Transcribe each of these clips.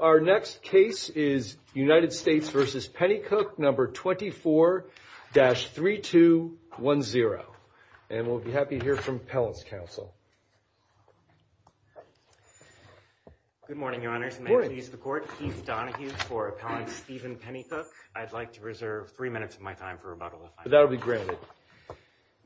Our next case is United States v. Pennycook No. 24-3210, and we'll be happy to hear from Appellants' Council. Good morning, Your Honors. My name is Keith Donahue for Appellant Steven Pennycook. I'd like to reserve three minutes of my time for rebuttal. That'll be granted.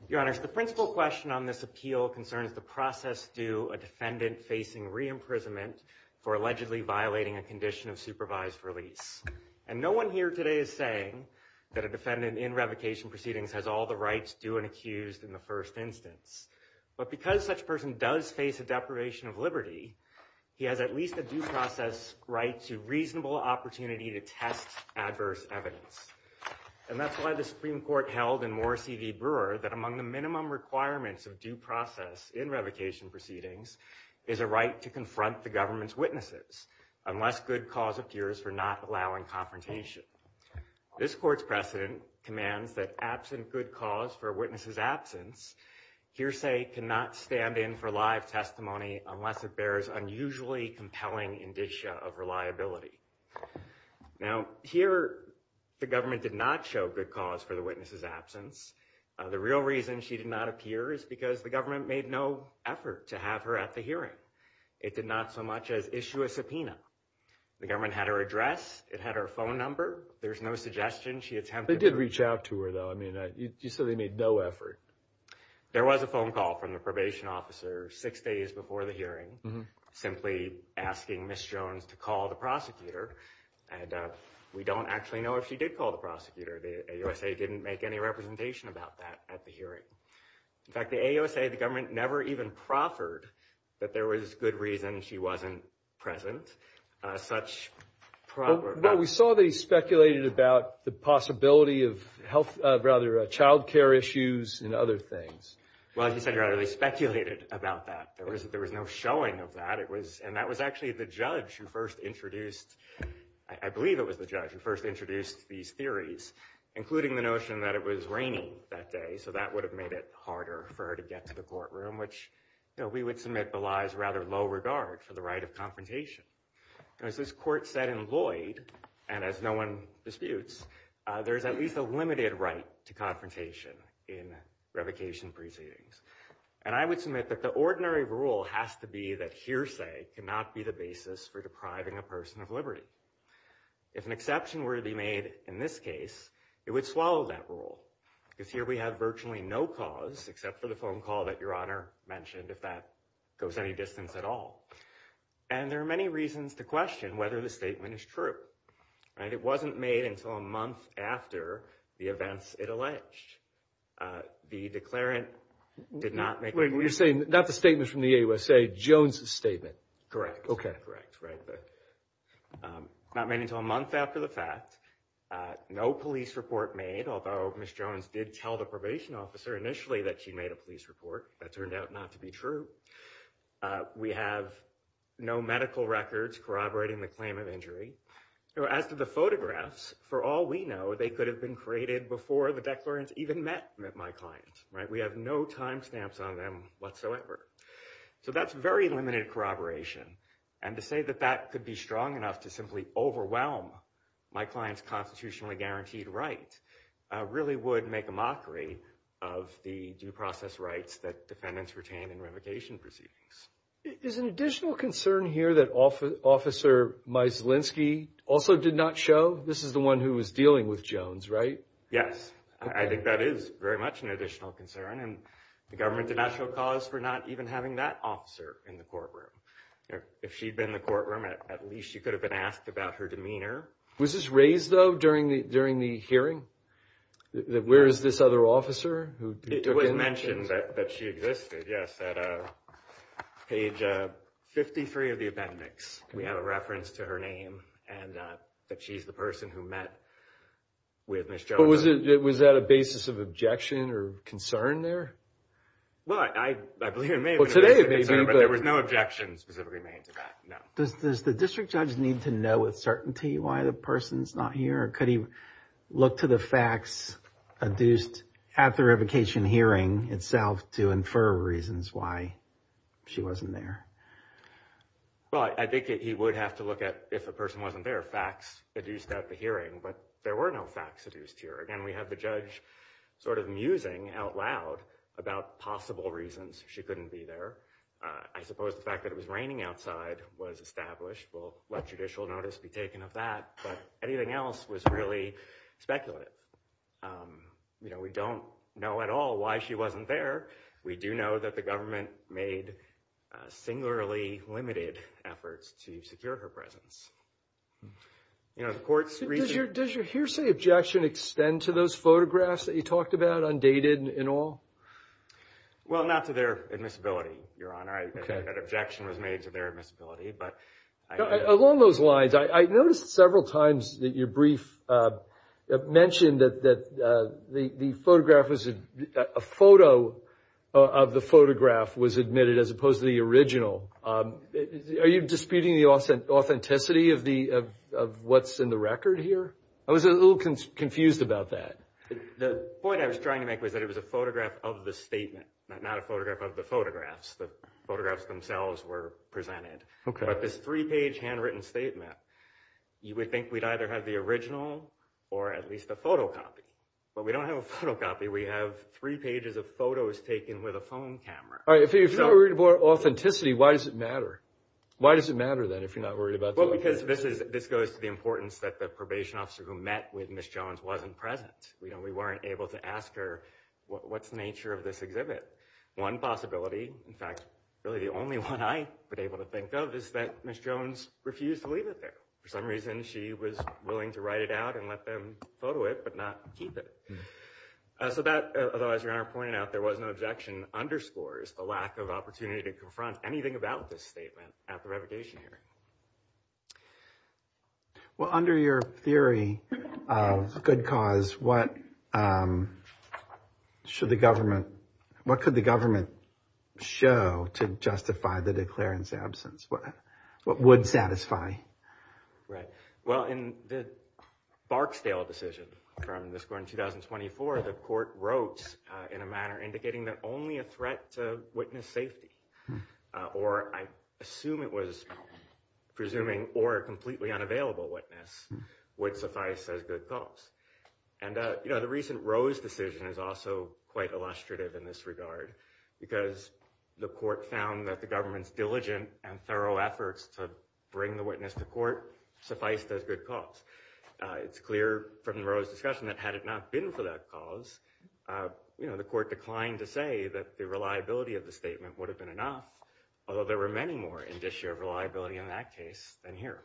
Your Honors, the principal question on this appeal concerns the process due a defendant facing re-imprisonment for allegedly violating a condition of supervised release. And no one here today is saying that a defendant in revocation proceedings has all the rights due and accused in the first instance. But because such a person does face a deprivation of liberty, he has at least a due process right to reasonable opportunity to test adverse evidence. And that's why the Supreme Court held in Morrissey v. Brewer that among the minimum requirements of due process in revocation proceedings is a right to confront the government's witnesses unless good cause appears for not allowing confrontation. This court's precedent commands that absent good cause for a witness's absence, hearsay cannot stand in for live testimony unless it bears unusually compelling indicia of reliability. Now, here the government did not show good cause for the witness's absence. The real reason she did not appear is because the government made no effort to have her at the hearing. It did not so much as issue a subpoena. The government had her address, it had her phone number. There's no suggestion she attempted to... They did reach out to her, though. I mean, you said they made no effort. There was a phone call from the probation officer six days before the hearing, simply asking Ms. Jones to call the prosecutor. And we don't actually know if she did call the prosecutor. The AUSA didn't make any representation about that at the hearing. In fact, the AUSA, the government never even proffered that there was good reason she wasn't present. Well, we saw they speculated about the possibility of child care issues and other things. Well, as you said, they speculated about that. There was no showing of that. And that was actually the judge who first introduced... I believe it was the judge who first introduced these theories, including the notion that it was raining that day. So that would have made it harder for her to get to the courtroom. We would submit Belay's rather low regard for the right of confrontation. As this court said in Lloyd, and as no one disputes, there is at least a limited right to confrontation in revocation proceedings. And I would submit that the ordinary rule has to be that hearsay cannot be the basis for depriving a person of liberty. If an exception were to be made in this case, it would swallow that rule. Because here we have virtually no cause except for the phone call that Your Honor mentioned, if that goes any distance at all. And there are many reasons to question whether the statement is true. It wasn't made until a month after the events it alleged. The declarant did not make... You're saying not the statement from the AUSA, Jones's statement. Correct. Okay. Correct. Not made until a month after the fact. No police report made, although Ms. Jones did tell the probation officer initially that she made a police report. That turned out not to be true. We have no medical records corroborating the claim of injury. As to the photographs, for all we know, they could have been created before the declarants even met my client. We have no time stamps on them whatsoever. So that's very limited corroboration. And to say that that could be strong enough to simply overwhelm my client's constitutionally guaranteed right really would make a mockery of the due process rights that defendants retain in revocation proceedings. Is an additional concern here that Officer Mizalinski also did not show? This is the one who was dealing with Jones, right? Yes. I think that is very much an additional concern. And the government did not show cause for not even having that officer in the courtroom. If she'd been in the courtroom, at least she could have been asked about her demeanor. Was this raised, though, during the hearing? Where is this other officer? It was mentioned that she existed, yes, at page 53 of the appendix. We have a reference to her name and that she's the person who met with Ms. Jones. Was that a basis of objection or concern there? Well, I believe it may have been a basis of concern, but there was no objection specifically made to that, no. Does the district judge need to know with certainty why the person's not here? Or could he look to the facts adduced at the revocation hearing itself to infer reasons why she wasn't there? Well, I think he would have to look at, if the person wasn't there, facts adduced at the hearing. But there were no facts adduced here. Again, we have the judge sort of musing out loud about possible reasons she couldn't be there. I suppose the fact that it was raining outside was established. We'll let judicial notice be taken of that. But anything else was really speculative. You know, we don't know at all why she wasn't there. We do know that the government made singularly limited efforts to secure her presence. Does your hearsay objection extend to those photographs that you talked about, undated and all? Well, not to their admissibility, Your Honor. I think that objection was made to their admissibility. Along those lines, I noticed several times that your brief mentioned that a photo of the photograph was admitted as opposed to the original. Are you disputing the authenticity of what's in the record here? I was a little confused about that. The point I was trying to make was that it was a photograph of the statement, not a photograph of the photographs. The photographs themselves were presented. But this three-page handwritten statement, you would think we'd either have the original or at least a photocopy. But we don't have a photocopy. We have three pages of photos taken with a phone camera. If you're not worried about authenticity, why does it matter? Why does it matter, then, if you're not worried about authenticity? Well, because this goes to the importance that the probation officer who met with Ms. Jones wasn't present. We weren't able to ask her, what's the nature of this exhibit? One possibility, in fact, really the only one I was able to think of, is that Ms. Jones refused to leave it there. For some reason, she was willing to write it out and let them photo it, but not keep it. So that, although as your Honor pointed out, there was no objection, underscores the lack of opportunity to confront anything about this statement at the revocation hearing. Well, under your theory of good cause, what should the government, what could the government show to justify the declarant's absence? What would satisfy? Well, in the Barksdale decision from this court in 2024, the court wrote in a manner indicating that only a threat to witness safety, or I assume it was presuming or a completely unavailable witness, would suffice as good cause. And the recent Rose decision is also quite illustrative in this regard, because the court found that the government's diligent and thorough efforts to bring the witness to court sufficed as good cause. It's clear from the Rose discussion that had it not been for that cause, the court declined to say that the reliability of the statement would have been enough, although there were many more in this year of reliability in that case than here.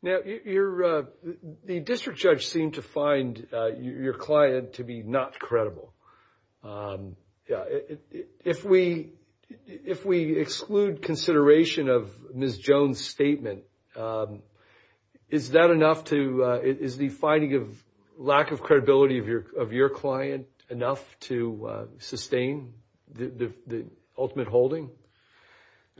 Now, the district judge seemed to find your client to be not credible. If we exclude consideration of Ms. Jones' statement, is that enough to, is the finding of lack of credibility of your client enough to sustain the ultimate holding?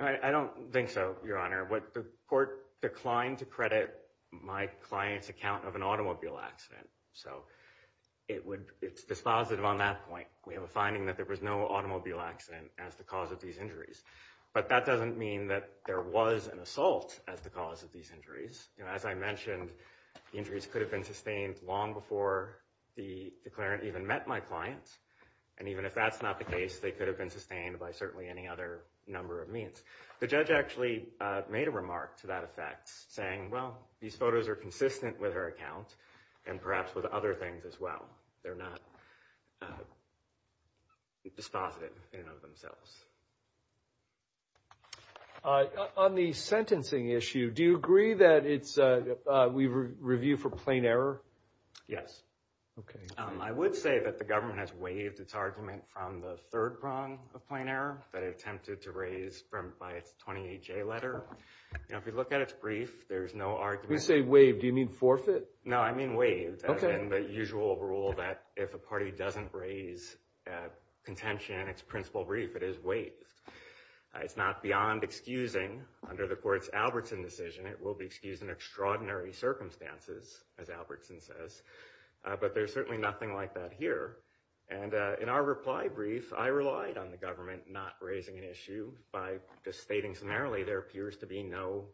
I don't think so, Your Honor. The court declined to credit my client's account of an automobile accident. So it's dispositive on that point. We have a finding that there was no automobile accident as the cause of these injuries. But that doesn't mean that there was an assault as the cause of these injuries. As I mentioned, the injuries could have been sustained long before the declarant even met my client. And even if that's not the case, they could have been sustained by certainly any other number of means. The judge actually made a remark to that effect, saying, well, these photos are consistent with her account and perhaps with other things as well. They're not dispositive in and of themselves. On the sentencing issue, do you agree that we review for plain error? Yes. I would say that the government has waived its argument from the third prong of plain error that it attempted to raise by its 28-J letter. If you look at its brief, there's no argument. When you say waived, do you mean forfeit? No, I mean waived, as in the usual rule that if a party doesn't raise contention in its principal brief, it is waived. It's not beyond excusing. Under the court's Albertson decision, it will be excused in extraordinary circumstances, as Albertson says. But there's certainly nothing like that here. And in our reply brief, I relied on the government not raising an issue by just stating summarily there appears to be no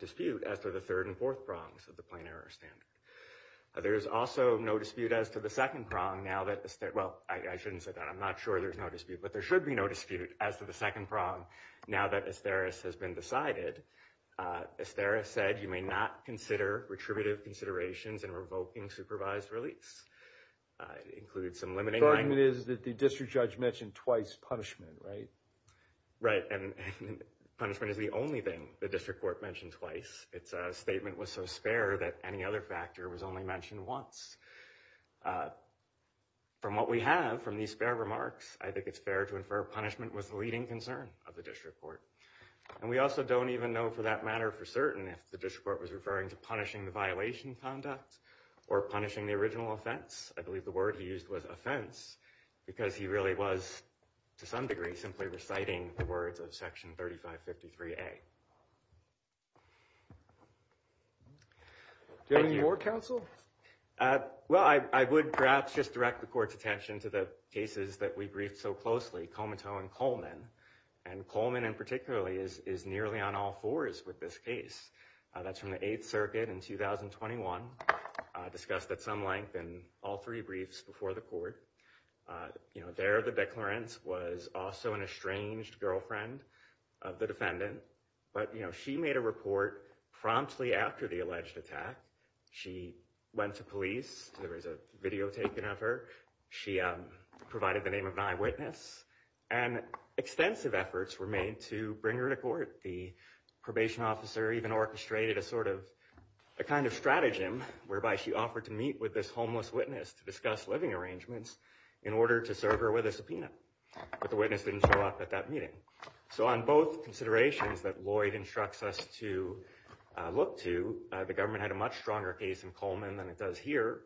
dispute as to the third and fourth prongs of the plain error standard. There is also no dispute as to the second prong now that – well, I shouldn't say that. I'm not sure there's no dispute, but there should be no dispute as to the second prong now that Asteris has been decided. Asteris said you may not consider retributive considerations in revoking supervised release. It includes some limiting – The argument is that the district judge mentioned twice punishment, right? Right, and punishment is the only thing the district court mentioned twice. Its statement was so spare that any other factor was only mentioned once. From what we have from these spare remarks, I think it's fair to infer punishment was the leading concern of the district court. And we also don't even know for that matter for certain if the district court was referring to punishing the violation conduct or punishing the original offense. I believe the word he used was offense because he really was, to some degree, simply reciting the words of Section 3553A. Do you have any more, counsel? Well, I would perhaps just direct the court's attention to the cases that we briefed so closely, Comiteau and Coleman. And Coleman, in particular, is nearly on all fours with this case. That's from the 8th Circuit in 2021, discussed at some length in all three briefs before the court. There, the declarant was also an estranged girlfriend of the defendant. But she made a report promptly after the alleged attack. She went to police. There was a video taken of her. She provided the name of an eyewitness. And extensive efforts were made to bring her to court. The probation officer even orchestrated a kind of stratagem whereby she offered to meet with this homeless witness to discuss living arrangements in order to serve her with a subpoena. But the witness didn't show up at that meeting. So on both considerations that Lloyd instructs us to look to, the government had a much stronger case in Coleman than it does here.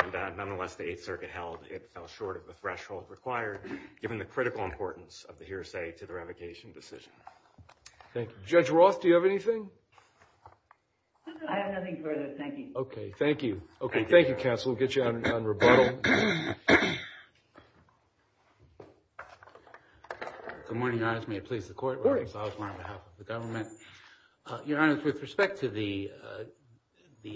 And nonetheless, the 8th Circuit held it fell short of the threshold required, given the critical importance of the hearsay to the revocation decision. Thank you. Judge Roth, do you have anything? I have nothing further. Thank you. OK, thank you. OK, thank you, counsel. We'll get you on rebuttal. Good morning, Your Honor. May it please the court. Good morning. As always, on behalf of the government. Your Honor, with respect to the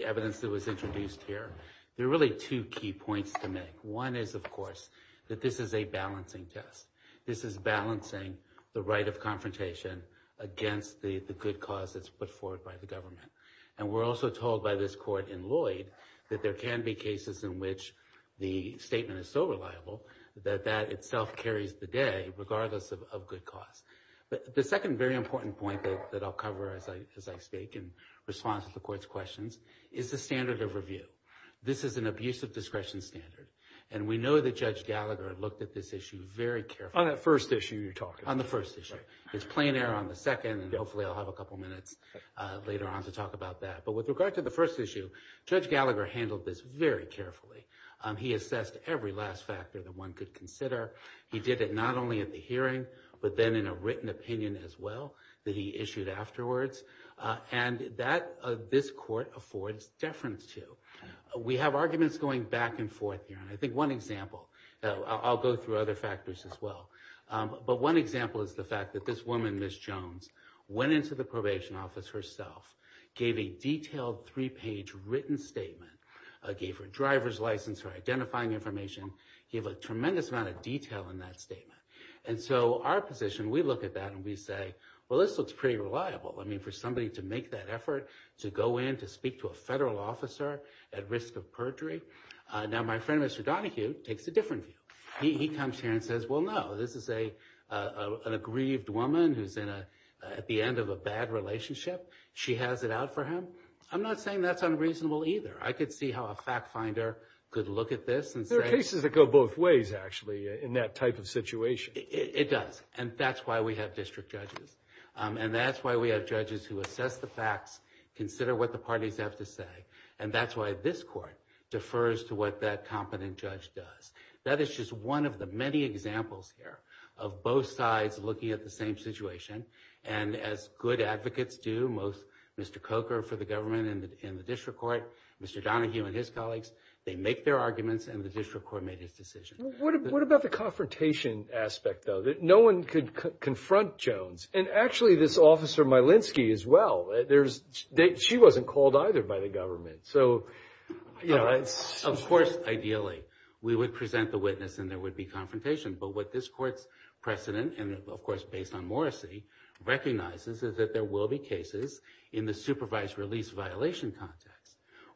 evidence that was introduced here, there are really two key points to make. One is, of course, that this is a balancing test. This is balancing the right of confrontation against the good cause that's put forward by the government. And we're also told by this court in Lloyd that there can be cases in which the statement is so reliable that that itself carries the day, regardless of good cause. But the second very important point that I'll cover as I speak in response to the court's questions is the standard of review. This is an abuse of discretion standard, and we know that Judge Gallagher looked at this issue very carefully. On that first issue you're talking about. On the first issue. His plain error on the second, and hopefully I'll have a couple minutes later on to talk about that. But with regard to the first issue, Judge Gallagher handled this very carefully. He assessed every last factor that one could consider. He did it not only at the hearing, but then in a written opinion as well that he issued afterwards. And that this court affords deference to. We have arguments going back and forth here, and I think one example. I'll go through other factors as well. But one example is the fact that this woman, Ms. Jones, went into the probation office herself, gave a detailed three-page written statement, gave her driver's license, her identifying information. He had a tremendous amount of detail in that statement. And so our position, we look at that and we say, well, this looks pretty reliable. I mean, for somebody to make that effort to go in to speak to a federal officer at risk of perjury. Now, my friend, Mr. Donahue, takes a different view. He comes here and says, well, no, this is an aggrieved woman who's at the end of a bad relationship. She has it out for him. I'm not saying that's unreasonable either. I could see how a fact finder could look at this and say. There are cases that go both ways, actually, in that type of situation. It does. And that's why we have district judges. And that's why we have judges who assess the facts, consider what the parties have to say. And that's why this court defers to what that competent judge does. That is just one of the many examples here of both sides looking at the same situation. And as good advocates do, Mr. Coker for the government and the district court, Mr. Donahue and his colleagues, they make their arguments and the district court made its decision. What about the confrontation aspect, though? No one could confront Jones. And actually, this Officer Malinsky as well. She wasn't called either by the government. Of course, ideally, we would present the witness and there would be confrontation. But what this court's precedent, and of course based on Morrissey, recognizes is that there will be cases in the supervised release violation context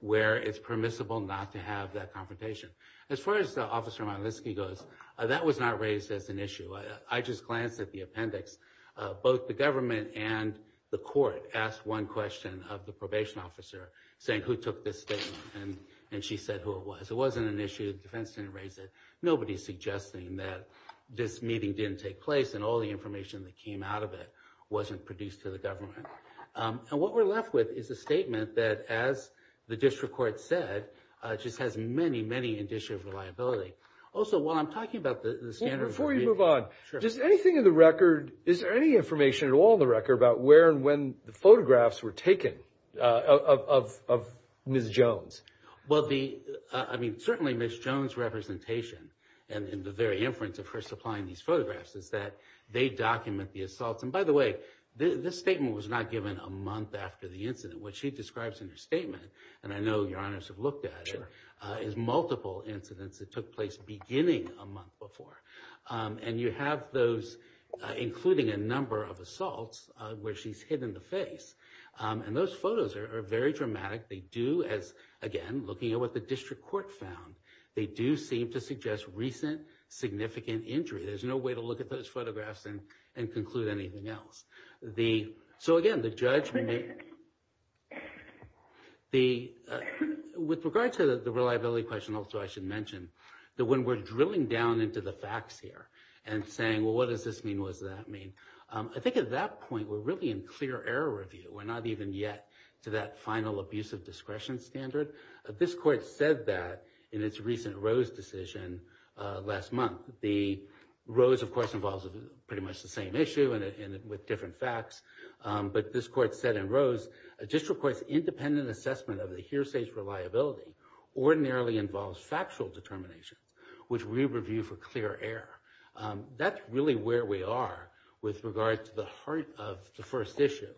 where it's permissible not to have that confrontation. As far as Officer Malinsky goes, that was not raised as an issue. I just glanced at the appendix. Both the government and the court asked one question of the probation officer saying who took this statement. And she said who it was. It wasn't an issue. The defense didn't raise it. Nobody's suggesting that this meeting didn't take place and all the information that came out of it wasn't produced to the government. And what we're left with is a statement that, as the district court said, just has many, many indicia of reliability. Also, while I'm talking about the standards of reading. Before you move on, just anything in the record, is there any information at all in the record about where and when the photographs were taken of Ms. Jones? Well, certainly Ms. Jones' representation and the very inference of her supplying these photographs is that they document the assaults. And by the way, this statement was not given a month after the incident. What she describes in her statement, and I know your honors have looked at it, is multiple incidents that took place beginning a month before. And you have those including a number of assaults where she's hidden the face. And those photos are very dramatic. They do, as again, looking at what the district court found, they do seem to suggest recent significant injury. There's no way to look at those photographs and conclude anything else. So again, the judgment, with regard to the reliability question also I should mention, that when we're drilling down into the facts here and saying, well, what does this mean, what does that mean, I think at that point we're really in clear error review. We're not even yet to that final abuse of discretion standard. This court said that in its recent Rose decision last month. Rose, of course, involves pretty much the same issue with different facts. But this court said in Rose, a district court's independent assessment of the hearsay's reliability ordinarily involves factual determination, which we review for clear error. That's really where we are with regard to the heart of the first issue.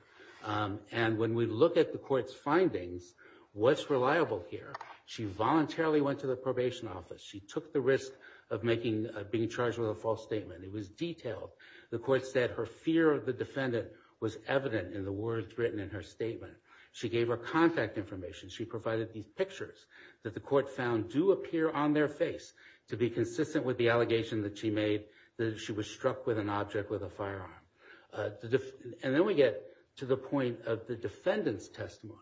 And when we look at the court's findings, what's reliable here? She voluntarily went to the probation office. She took the risk of being charged with a false statement. It was detailed. The court said her fear of the defendant was evident in the words written in her statement. She gave her contact information. She provided these pictures that the court found do appear on their face to be consistent with the allegation that she made that she was struck with an object with a firearm. And then we get to the point of the defendant's testimony.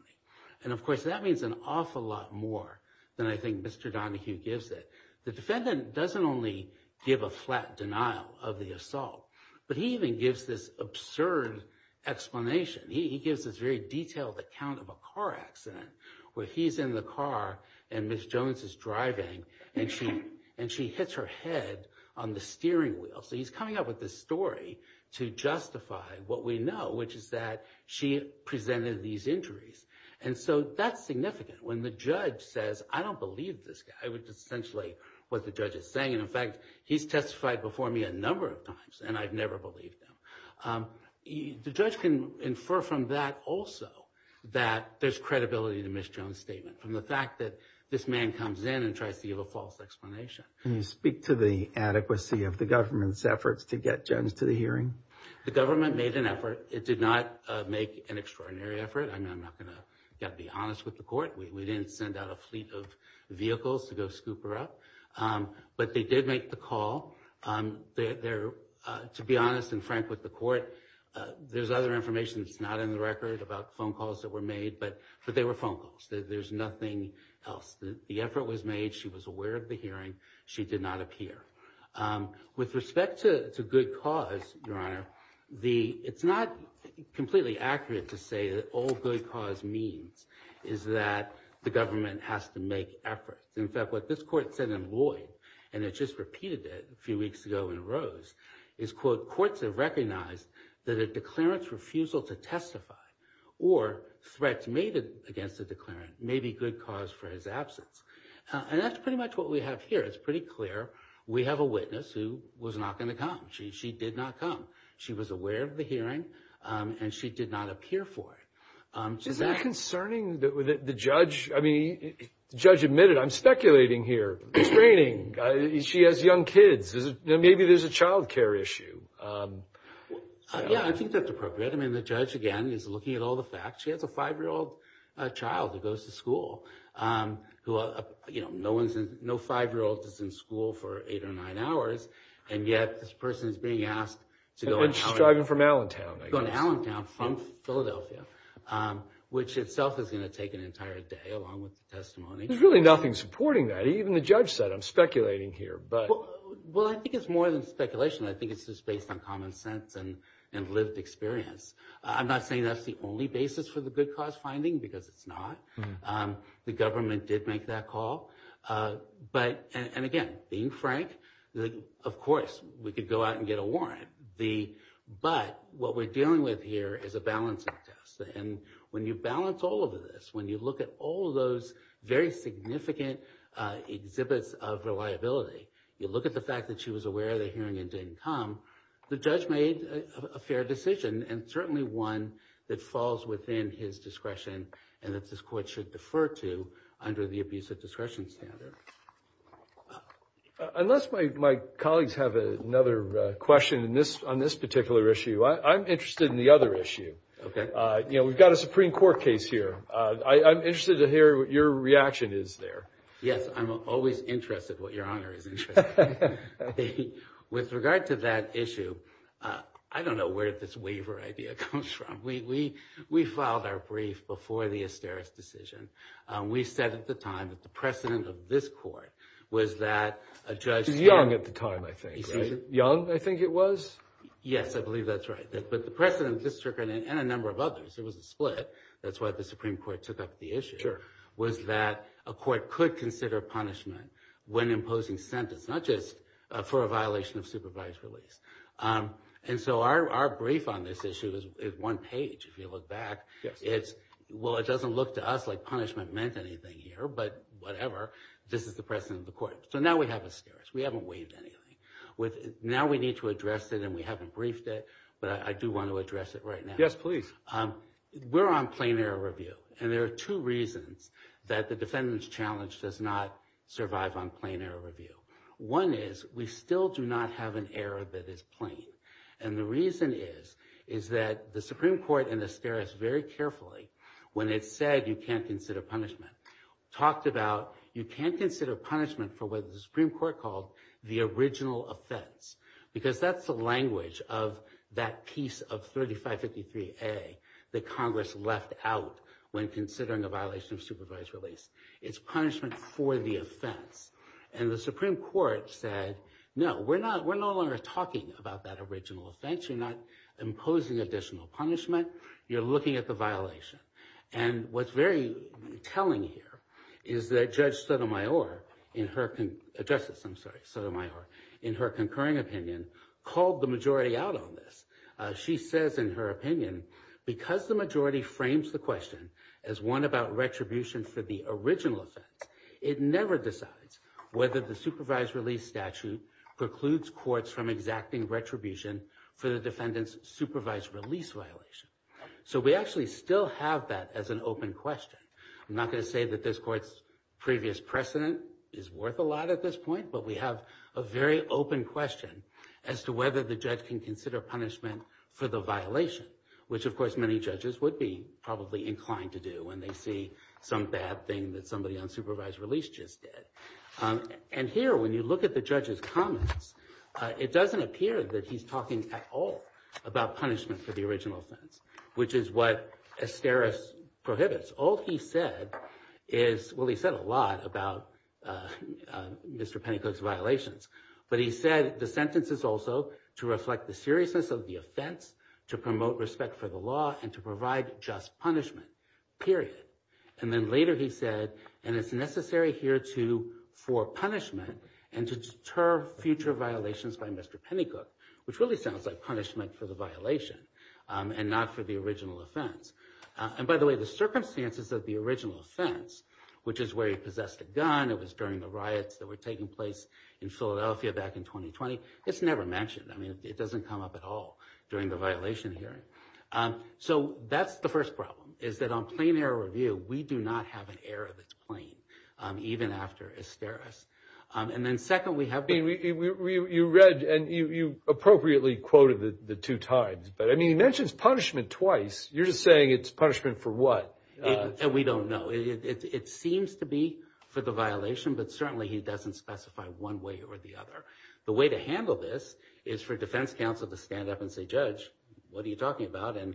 And, of course, that means an awful lot more than I think Mr. Donahue gives it. The defendant doesn't only give a flat denial of the assault, but he even gives this absurd explanation. He gives this very detailed account of a car accident where he's in the car and Ms. Jones is driving and she hits her head on the steering wheel. So he's coming up with this story to justify what we know, which is that she presented these injuries. And so that's significant. When the judge says, I don't believe this guy, which is essentially what the judge is saying. And, in fact, he's testified before me a number of times, and I've never believed him. The judge can infer from that also that there's credibility in the Ms. Jones statement, from the fact that this man comes in and tries to give a false explanation. Can you speak to the adequacy of the government's efforts to get Jones to the hearing? The government made an effort. It did not make an extraordinary effort. I'm not going to be honest with the court. We didn't send out a fleet of vehicles to go scoop her up. But they did make the call. To be honest and frank with the court, there's other information that's not in the record about phone calls that were made, but they were phone calls. There's nothing else. The effort was made. She was aware of the hearing. She did not appear. With respect to good cause, Your Honor, it's not completely accurate to say that all good cause means is that the government has to make efforts. In fact, what this court said in Lloyd, and it just repeated it a few weeks ago in Rose, is, quote, courts have recognized that a declarant's refusal to testify or threats made against the declarant may be good cause for his absence. And that's pretty much what we have here. It's pretty clear. We have a witness who was not going to come. She did not come. She was aware of the hearing, and she did not appear for it. Is that concerning? The judge, I mean, the judge admitted, I'm speculating here. It's raining. She has young kids. Maybe there's a child care issue. Yeah, I think that's appropriate. I mean, the judge, again, is looking at all the facts. She has a 5-year-old child who goes to school. No 5-year-old is in school for 8 or 9 hours, and yet this person is being asked to go to Allentown. And she's driving from Allentown, I guess. Go to Allentown from Philadelphia, which itself is going to take an entire day along with the testimony. There's really nothing supporting that. Even the judge said, I'm speculating here. Well, I think it's more than speculation. I think it's just based on common sense and lived experience. I'm not saying that's the only basis for the good cause finding, because it's not. The government did make that call. But, and again, being frank, of course, we could go out and get a warrant. But what we're dealing with here is a balancing test. And when you balance all of this, when you look at all those very significant exhibits of reliability, you look at the fact that she was aware of the hearing and didn't come, the judge made a fair decision, and certainly one that falls within his discretion and that this court should defer to under the abusive discretion standard. Unless my colleagues have another question on this particular issue, I'm interested in the other issue. Okay. You know, we've got a Supreme Court case here. I'm interested to hear what your reaction is there. Yes, I'm always interested in what Your Honor is interested in. With regard to that issue, I don't know where this waiver idea comes from. We filed our brief before the Asterix decision. We said at the time that the precedent of this court was that a judge can't- It was Young at the time, I think, right? Young, I think it was? Yes, I believe that's right. But the precedent of this circuit and a number of others, there was a split. That's why the Supreme Court took up the issue, was that a court could consider punishment when imposing sentence, not just for a violation of supervised release. And so our brief on this issue is one page, if you look back. Well, it doesn't look to us like punishment meant anything here, but whatever. This is the precedent of the court. So now we have Asterix. We haven't waived anything. Now we need to address it, and we haven't briefed it, but I do want to address it right now. Yes, please. We're on plain error review. And there are two reasons that the defendant's challenge does not survive on plain error review. One is we still do not have an error that is plain. And the reason is that the Supreme Court and Asterix very carefully, when it said you can't consider punishment, talked about you can't consider punishment for what the Supreme Court called the original offense, because that's the language of that piece of 3553A that Congress left out when considering a violation of supervised release. It's punishment for the offense. And the Supreme Court said, no, we're no longer talking about that original offense. You're not imposing additional punishment. You're looking at the violation. And what's very telling here is that Judge Sotomayor, Justice Sotomayor, in her concurring opinion, called the majority out on this. She says, in her opinion, because the majority frames the question as one about retribution for the original offense, it never decides whether the supervised release statute precludes courts from exacting retribution for the defendant's supervised release violation. So we actually still have that as an open question. I'm not going to say that this court's previous precedent is worth a lot at this point, but we have a very open question as to whether the judge can consider punishment for the violation, which, of course, many judges would be probably inclined to do when they see some bad thing that somebody on supervised release just did. And here, when you look at the judge's comments, it doesn't appear that he's talking at all about punishment for the original offense, which is what Esteros prohibits. All he said is, well, he said a lot about Mr. Petticoat's violations, but he said the sentence is also to reflect the seriousness of the offense, to promote respect for the law, and to provide just punishment, period. And then later he said, and it's necessary here for punishment and to deter future violations by Mr. Petticoat, which really sounds like punishment for the violation and not for the original offense. And by the way, the circumstances of the original offense, which is where he possessed a gun, it was during the riots that were taking place in Philadelphia back in 2020, it's never mentioned. I mean, it doesn't come up at all during the violation hearing. So that's the first problem, is that on plain error review, we do not have an error that's plain, even after Esteros. And then second, we have- You read and you appropriately quoted the two times, but I mean, he mentions punishment twice. You're just saying it's punishment for what? And we don't know. It seems to be for the violation, but certainly he doesn't specify one way or the other. The way to handle this is for defense counsel to stand up and say, Judge, what are you talking about? And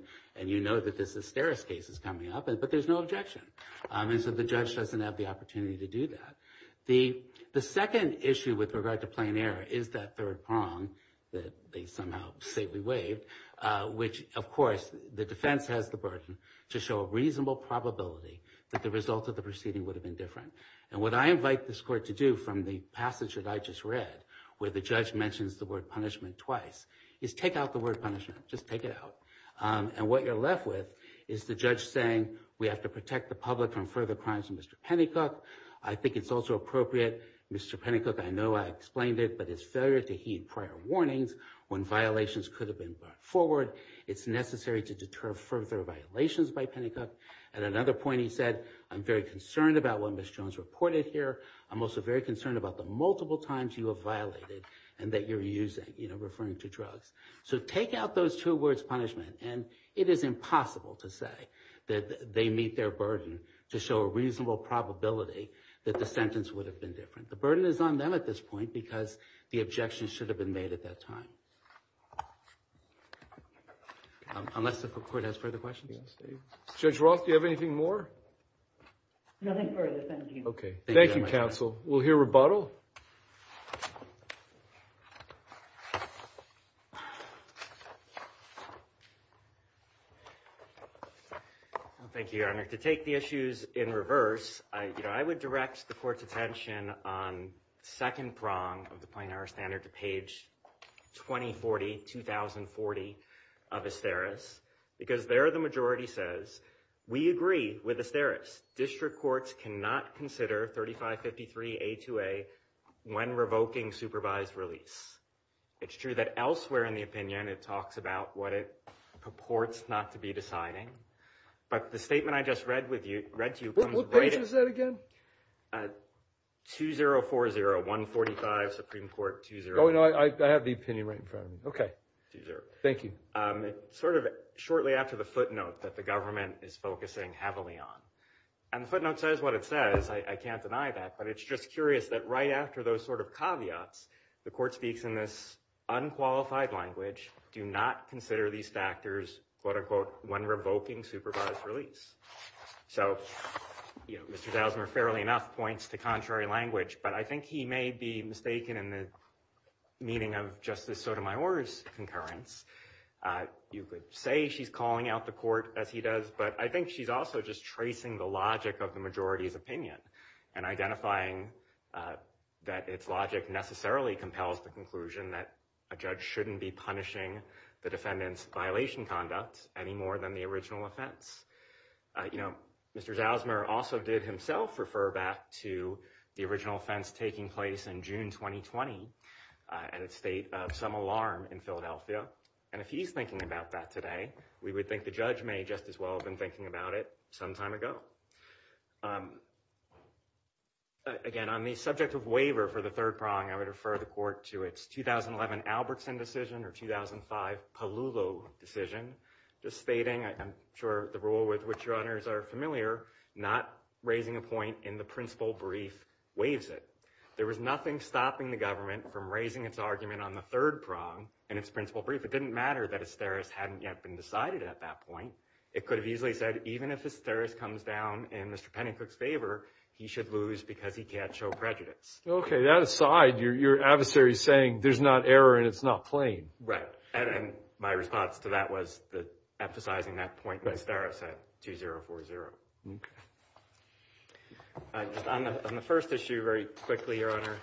you know that this Esteros case is coming up, but there's no objection. And so the judge doesn't have the opportunity to do that. The second issue with regard to plain error is that third prong that they somehow safely waived, which, of course, the defense has the burden to show a reasonable probability that the result of the proceeding would have been different. And what I invite this court to do from the passage that I just read, where the judge mentions the word punishment twice, is take out the word punishment. Just take it out. And what you're left with is the judge saying, we have to protect the public from further crimes of Mr. Pennycook. I think it's also appropriate. Mr. Pennycook, I know I explained it, but his failure to heed prior warnings when violations could have been brought forward, it's necessary to deter further violations by Pennycook. At another point he said, I'm very concerned about what Ms. Jones reported here. I'm also very concerned about the multiple times you have violated and that you're using, you know, referring to drugs. So take out those two words punishment. And it is impossible to say that they meet their burden to show a reasonable probability that the sentence would have been different. The burden is on them at this point because the objections should have been made at that time. Unless the court has further questions. Judge Roth, do you have anything more? Nothing further, thank you. Okay. Thank you, counsel. We'll hear rebuttal. Thank you, Your Honor. To take the issues in reverse, I would direct the court's attention on second prong of the Plain Air Standard to page 2040, 2040 of Asteris. Because there the majority says, we agree with Asteris. District courts cannot consider 3553A2A when revoking supervised release. It's true that elsewhere in the opinion it talks about what it purports not to be deciding. But the statement I just read with you, read to you. What page is that again? 2040, 145 Supreme Court, 2040. Oh, no, I have the opinion right in front of me. Okay. Thank you. It's sort of shortly after the footnote that the government is focusing heavily on. And the footnote says what it says. I can't deny that. But it's just curious that right after those sort of caveats, the court speaks in this unqualified language. Do not consider these factors, quote unquote, when revoking supervised release. So, you know, Mr. Dousmer fairly enough points to contrary language. But I think he may be mistaken in the meaning of Justice Sotomayor's concurrence. You could say she's calling out the court as he does. But I think she's also just tracing the logic of the majority's opinion and identifying that its logic necessarily compels the conclusion that a judge shouldn't be punishing the defendant's violation conduct any more than the original offense. You know, Mr. Dousmer also did himself refer back to the original offense taking place in June 2020 and its state of some alarm in Philadelphia. And if he's thinking about that today, we would think the judge may just as well have been thinking about it some time ago. Again, on the subject of waiver for the third prong, I would refer the court to its 2011 Albertson decision or 2005 Paluvo decision. Just stating, I'm sure the rule with which your honors are familiar, not raising a point in the principal brief waives it. There was nothing stopping the government from raising its argument on the third prong and its principal brief. It didn't matter that a steris hadn't yet been decided at that point. It could have easily said, even if a steris comes down in Mr. Pennycook's favor, he should lose because he can't show prejudice. OK, that aside, your adversary is saying there's not error and it's not plain. Right. And my response to that was emphasizing that point by steris at 2-0-4-0. On the first issue, very quickly, your honor,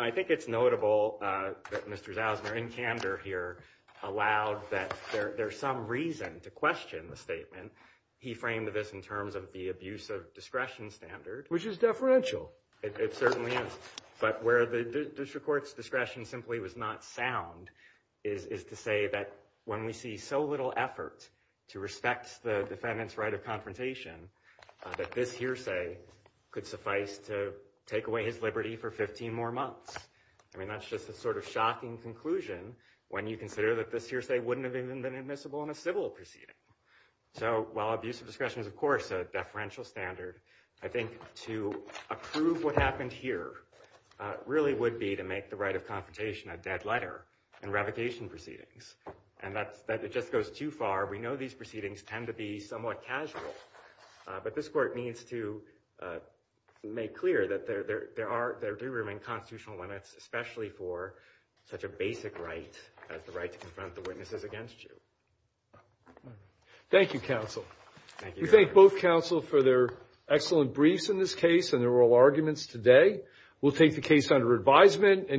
I think it's notable that Mr. Zausner, in candor here, allowed that there's some reason to question the statement. He framed this in terms of the abuse of discretion standard. Which is deferential. It certainly is. But where the district court's discretion simply was not sound is to say that when we see so little effort to respect the defendant's right of confrontation, that this hearsay could suffice to take away his liberty for 15 more months. I mean, that's just a sort of shocking conclusion when you consider that this hearsay wouldn't have even been admissible in a civil proceeding. So while abuse of discretion is, of course, a deferential standard, I think to approve what happened here really would be to make the right of confrontation a dead letter in revocation proceedings. And that just goes too far. We know these proceedings tend to be somewhat casual. But this court needs to make clear that there do remain constitutional limits, especially for such a basic right as the right to confront the witnesses against you. Thank you, counsel. Thank you, your honor. We thank both counsel for their excellent briefs in this case and their oral arguments today. We'll take the case under advisement.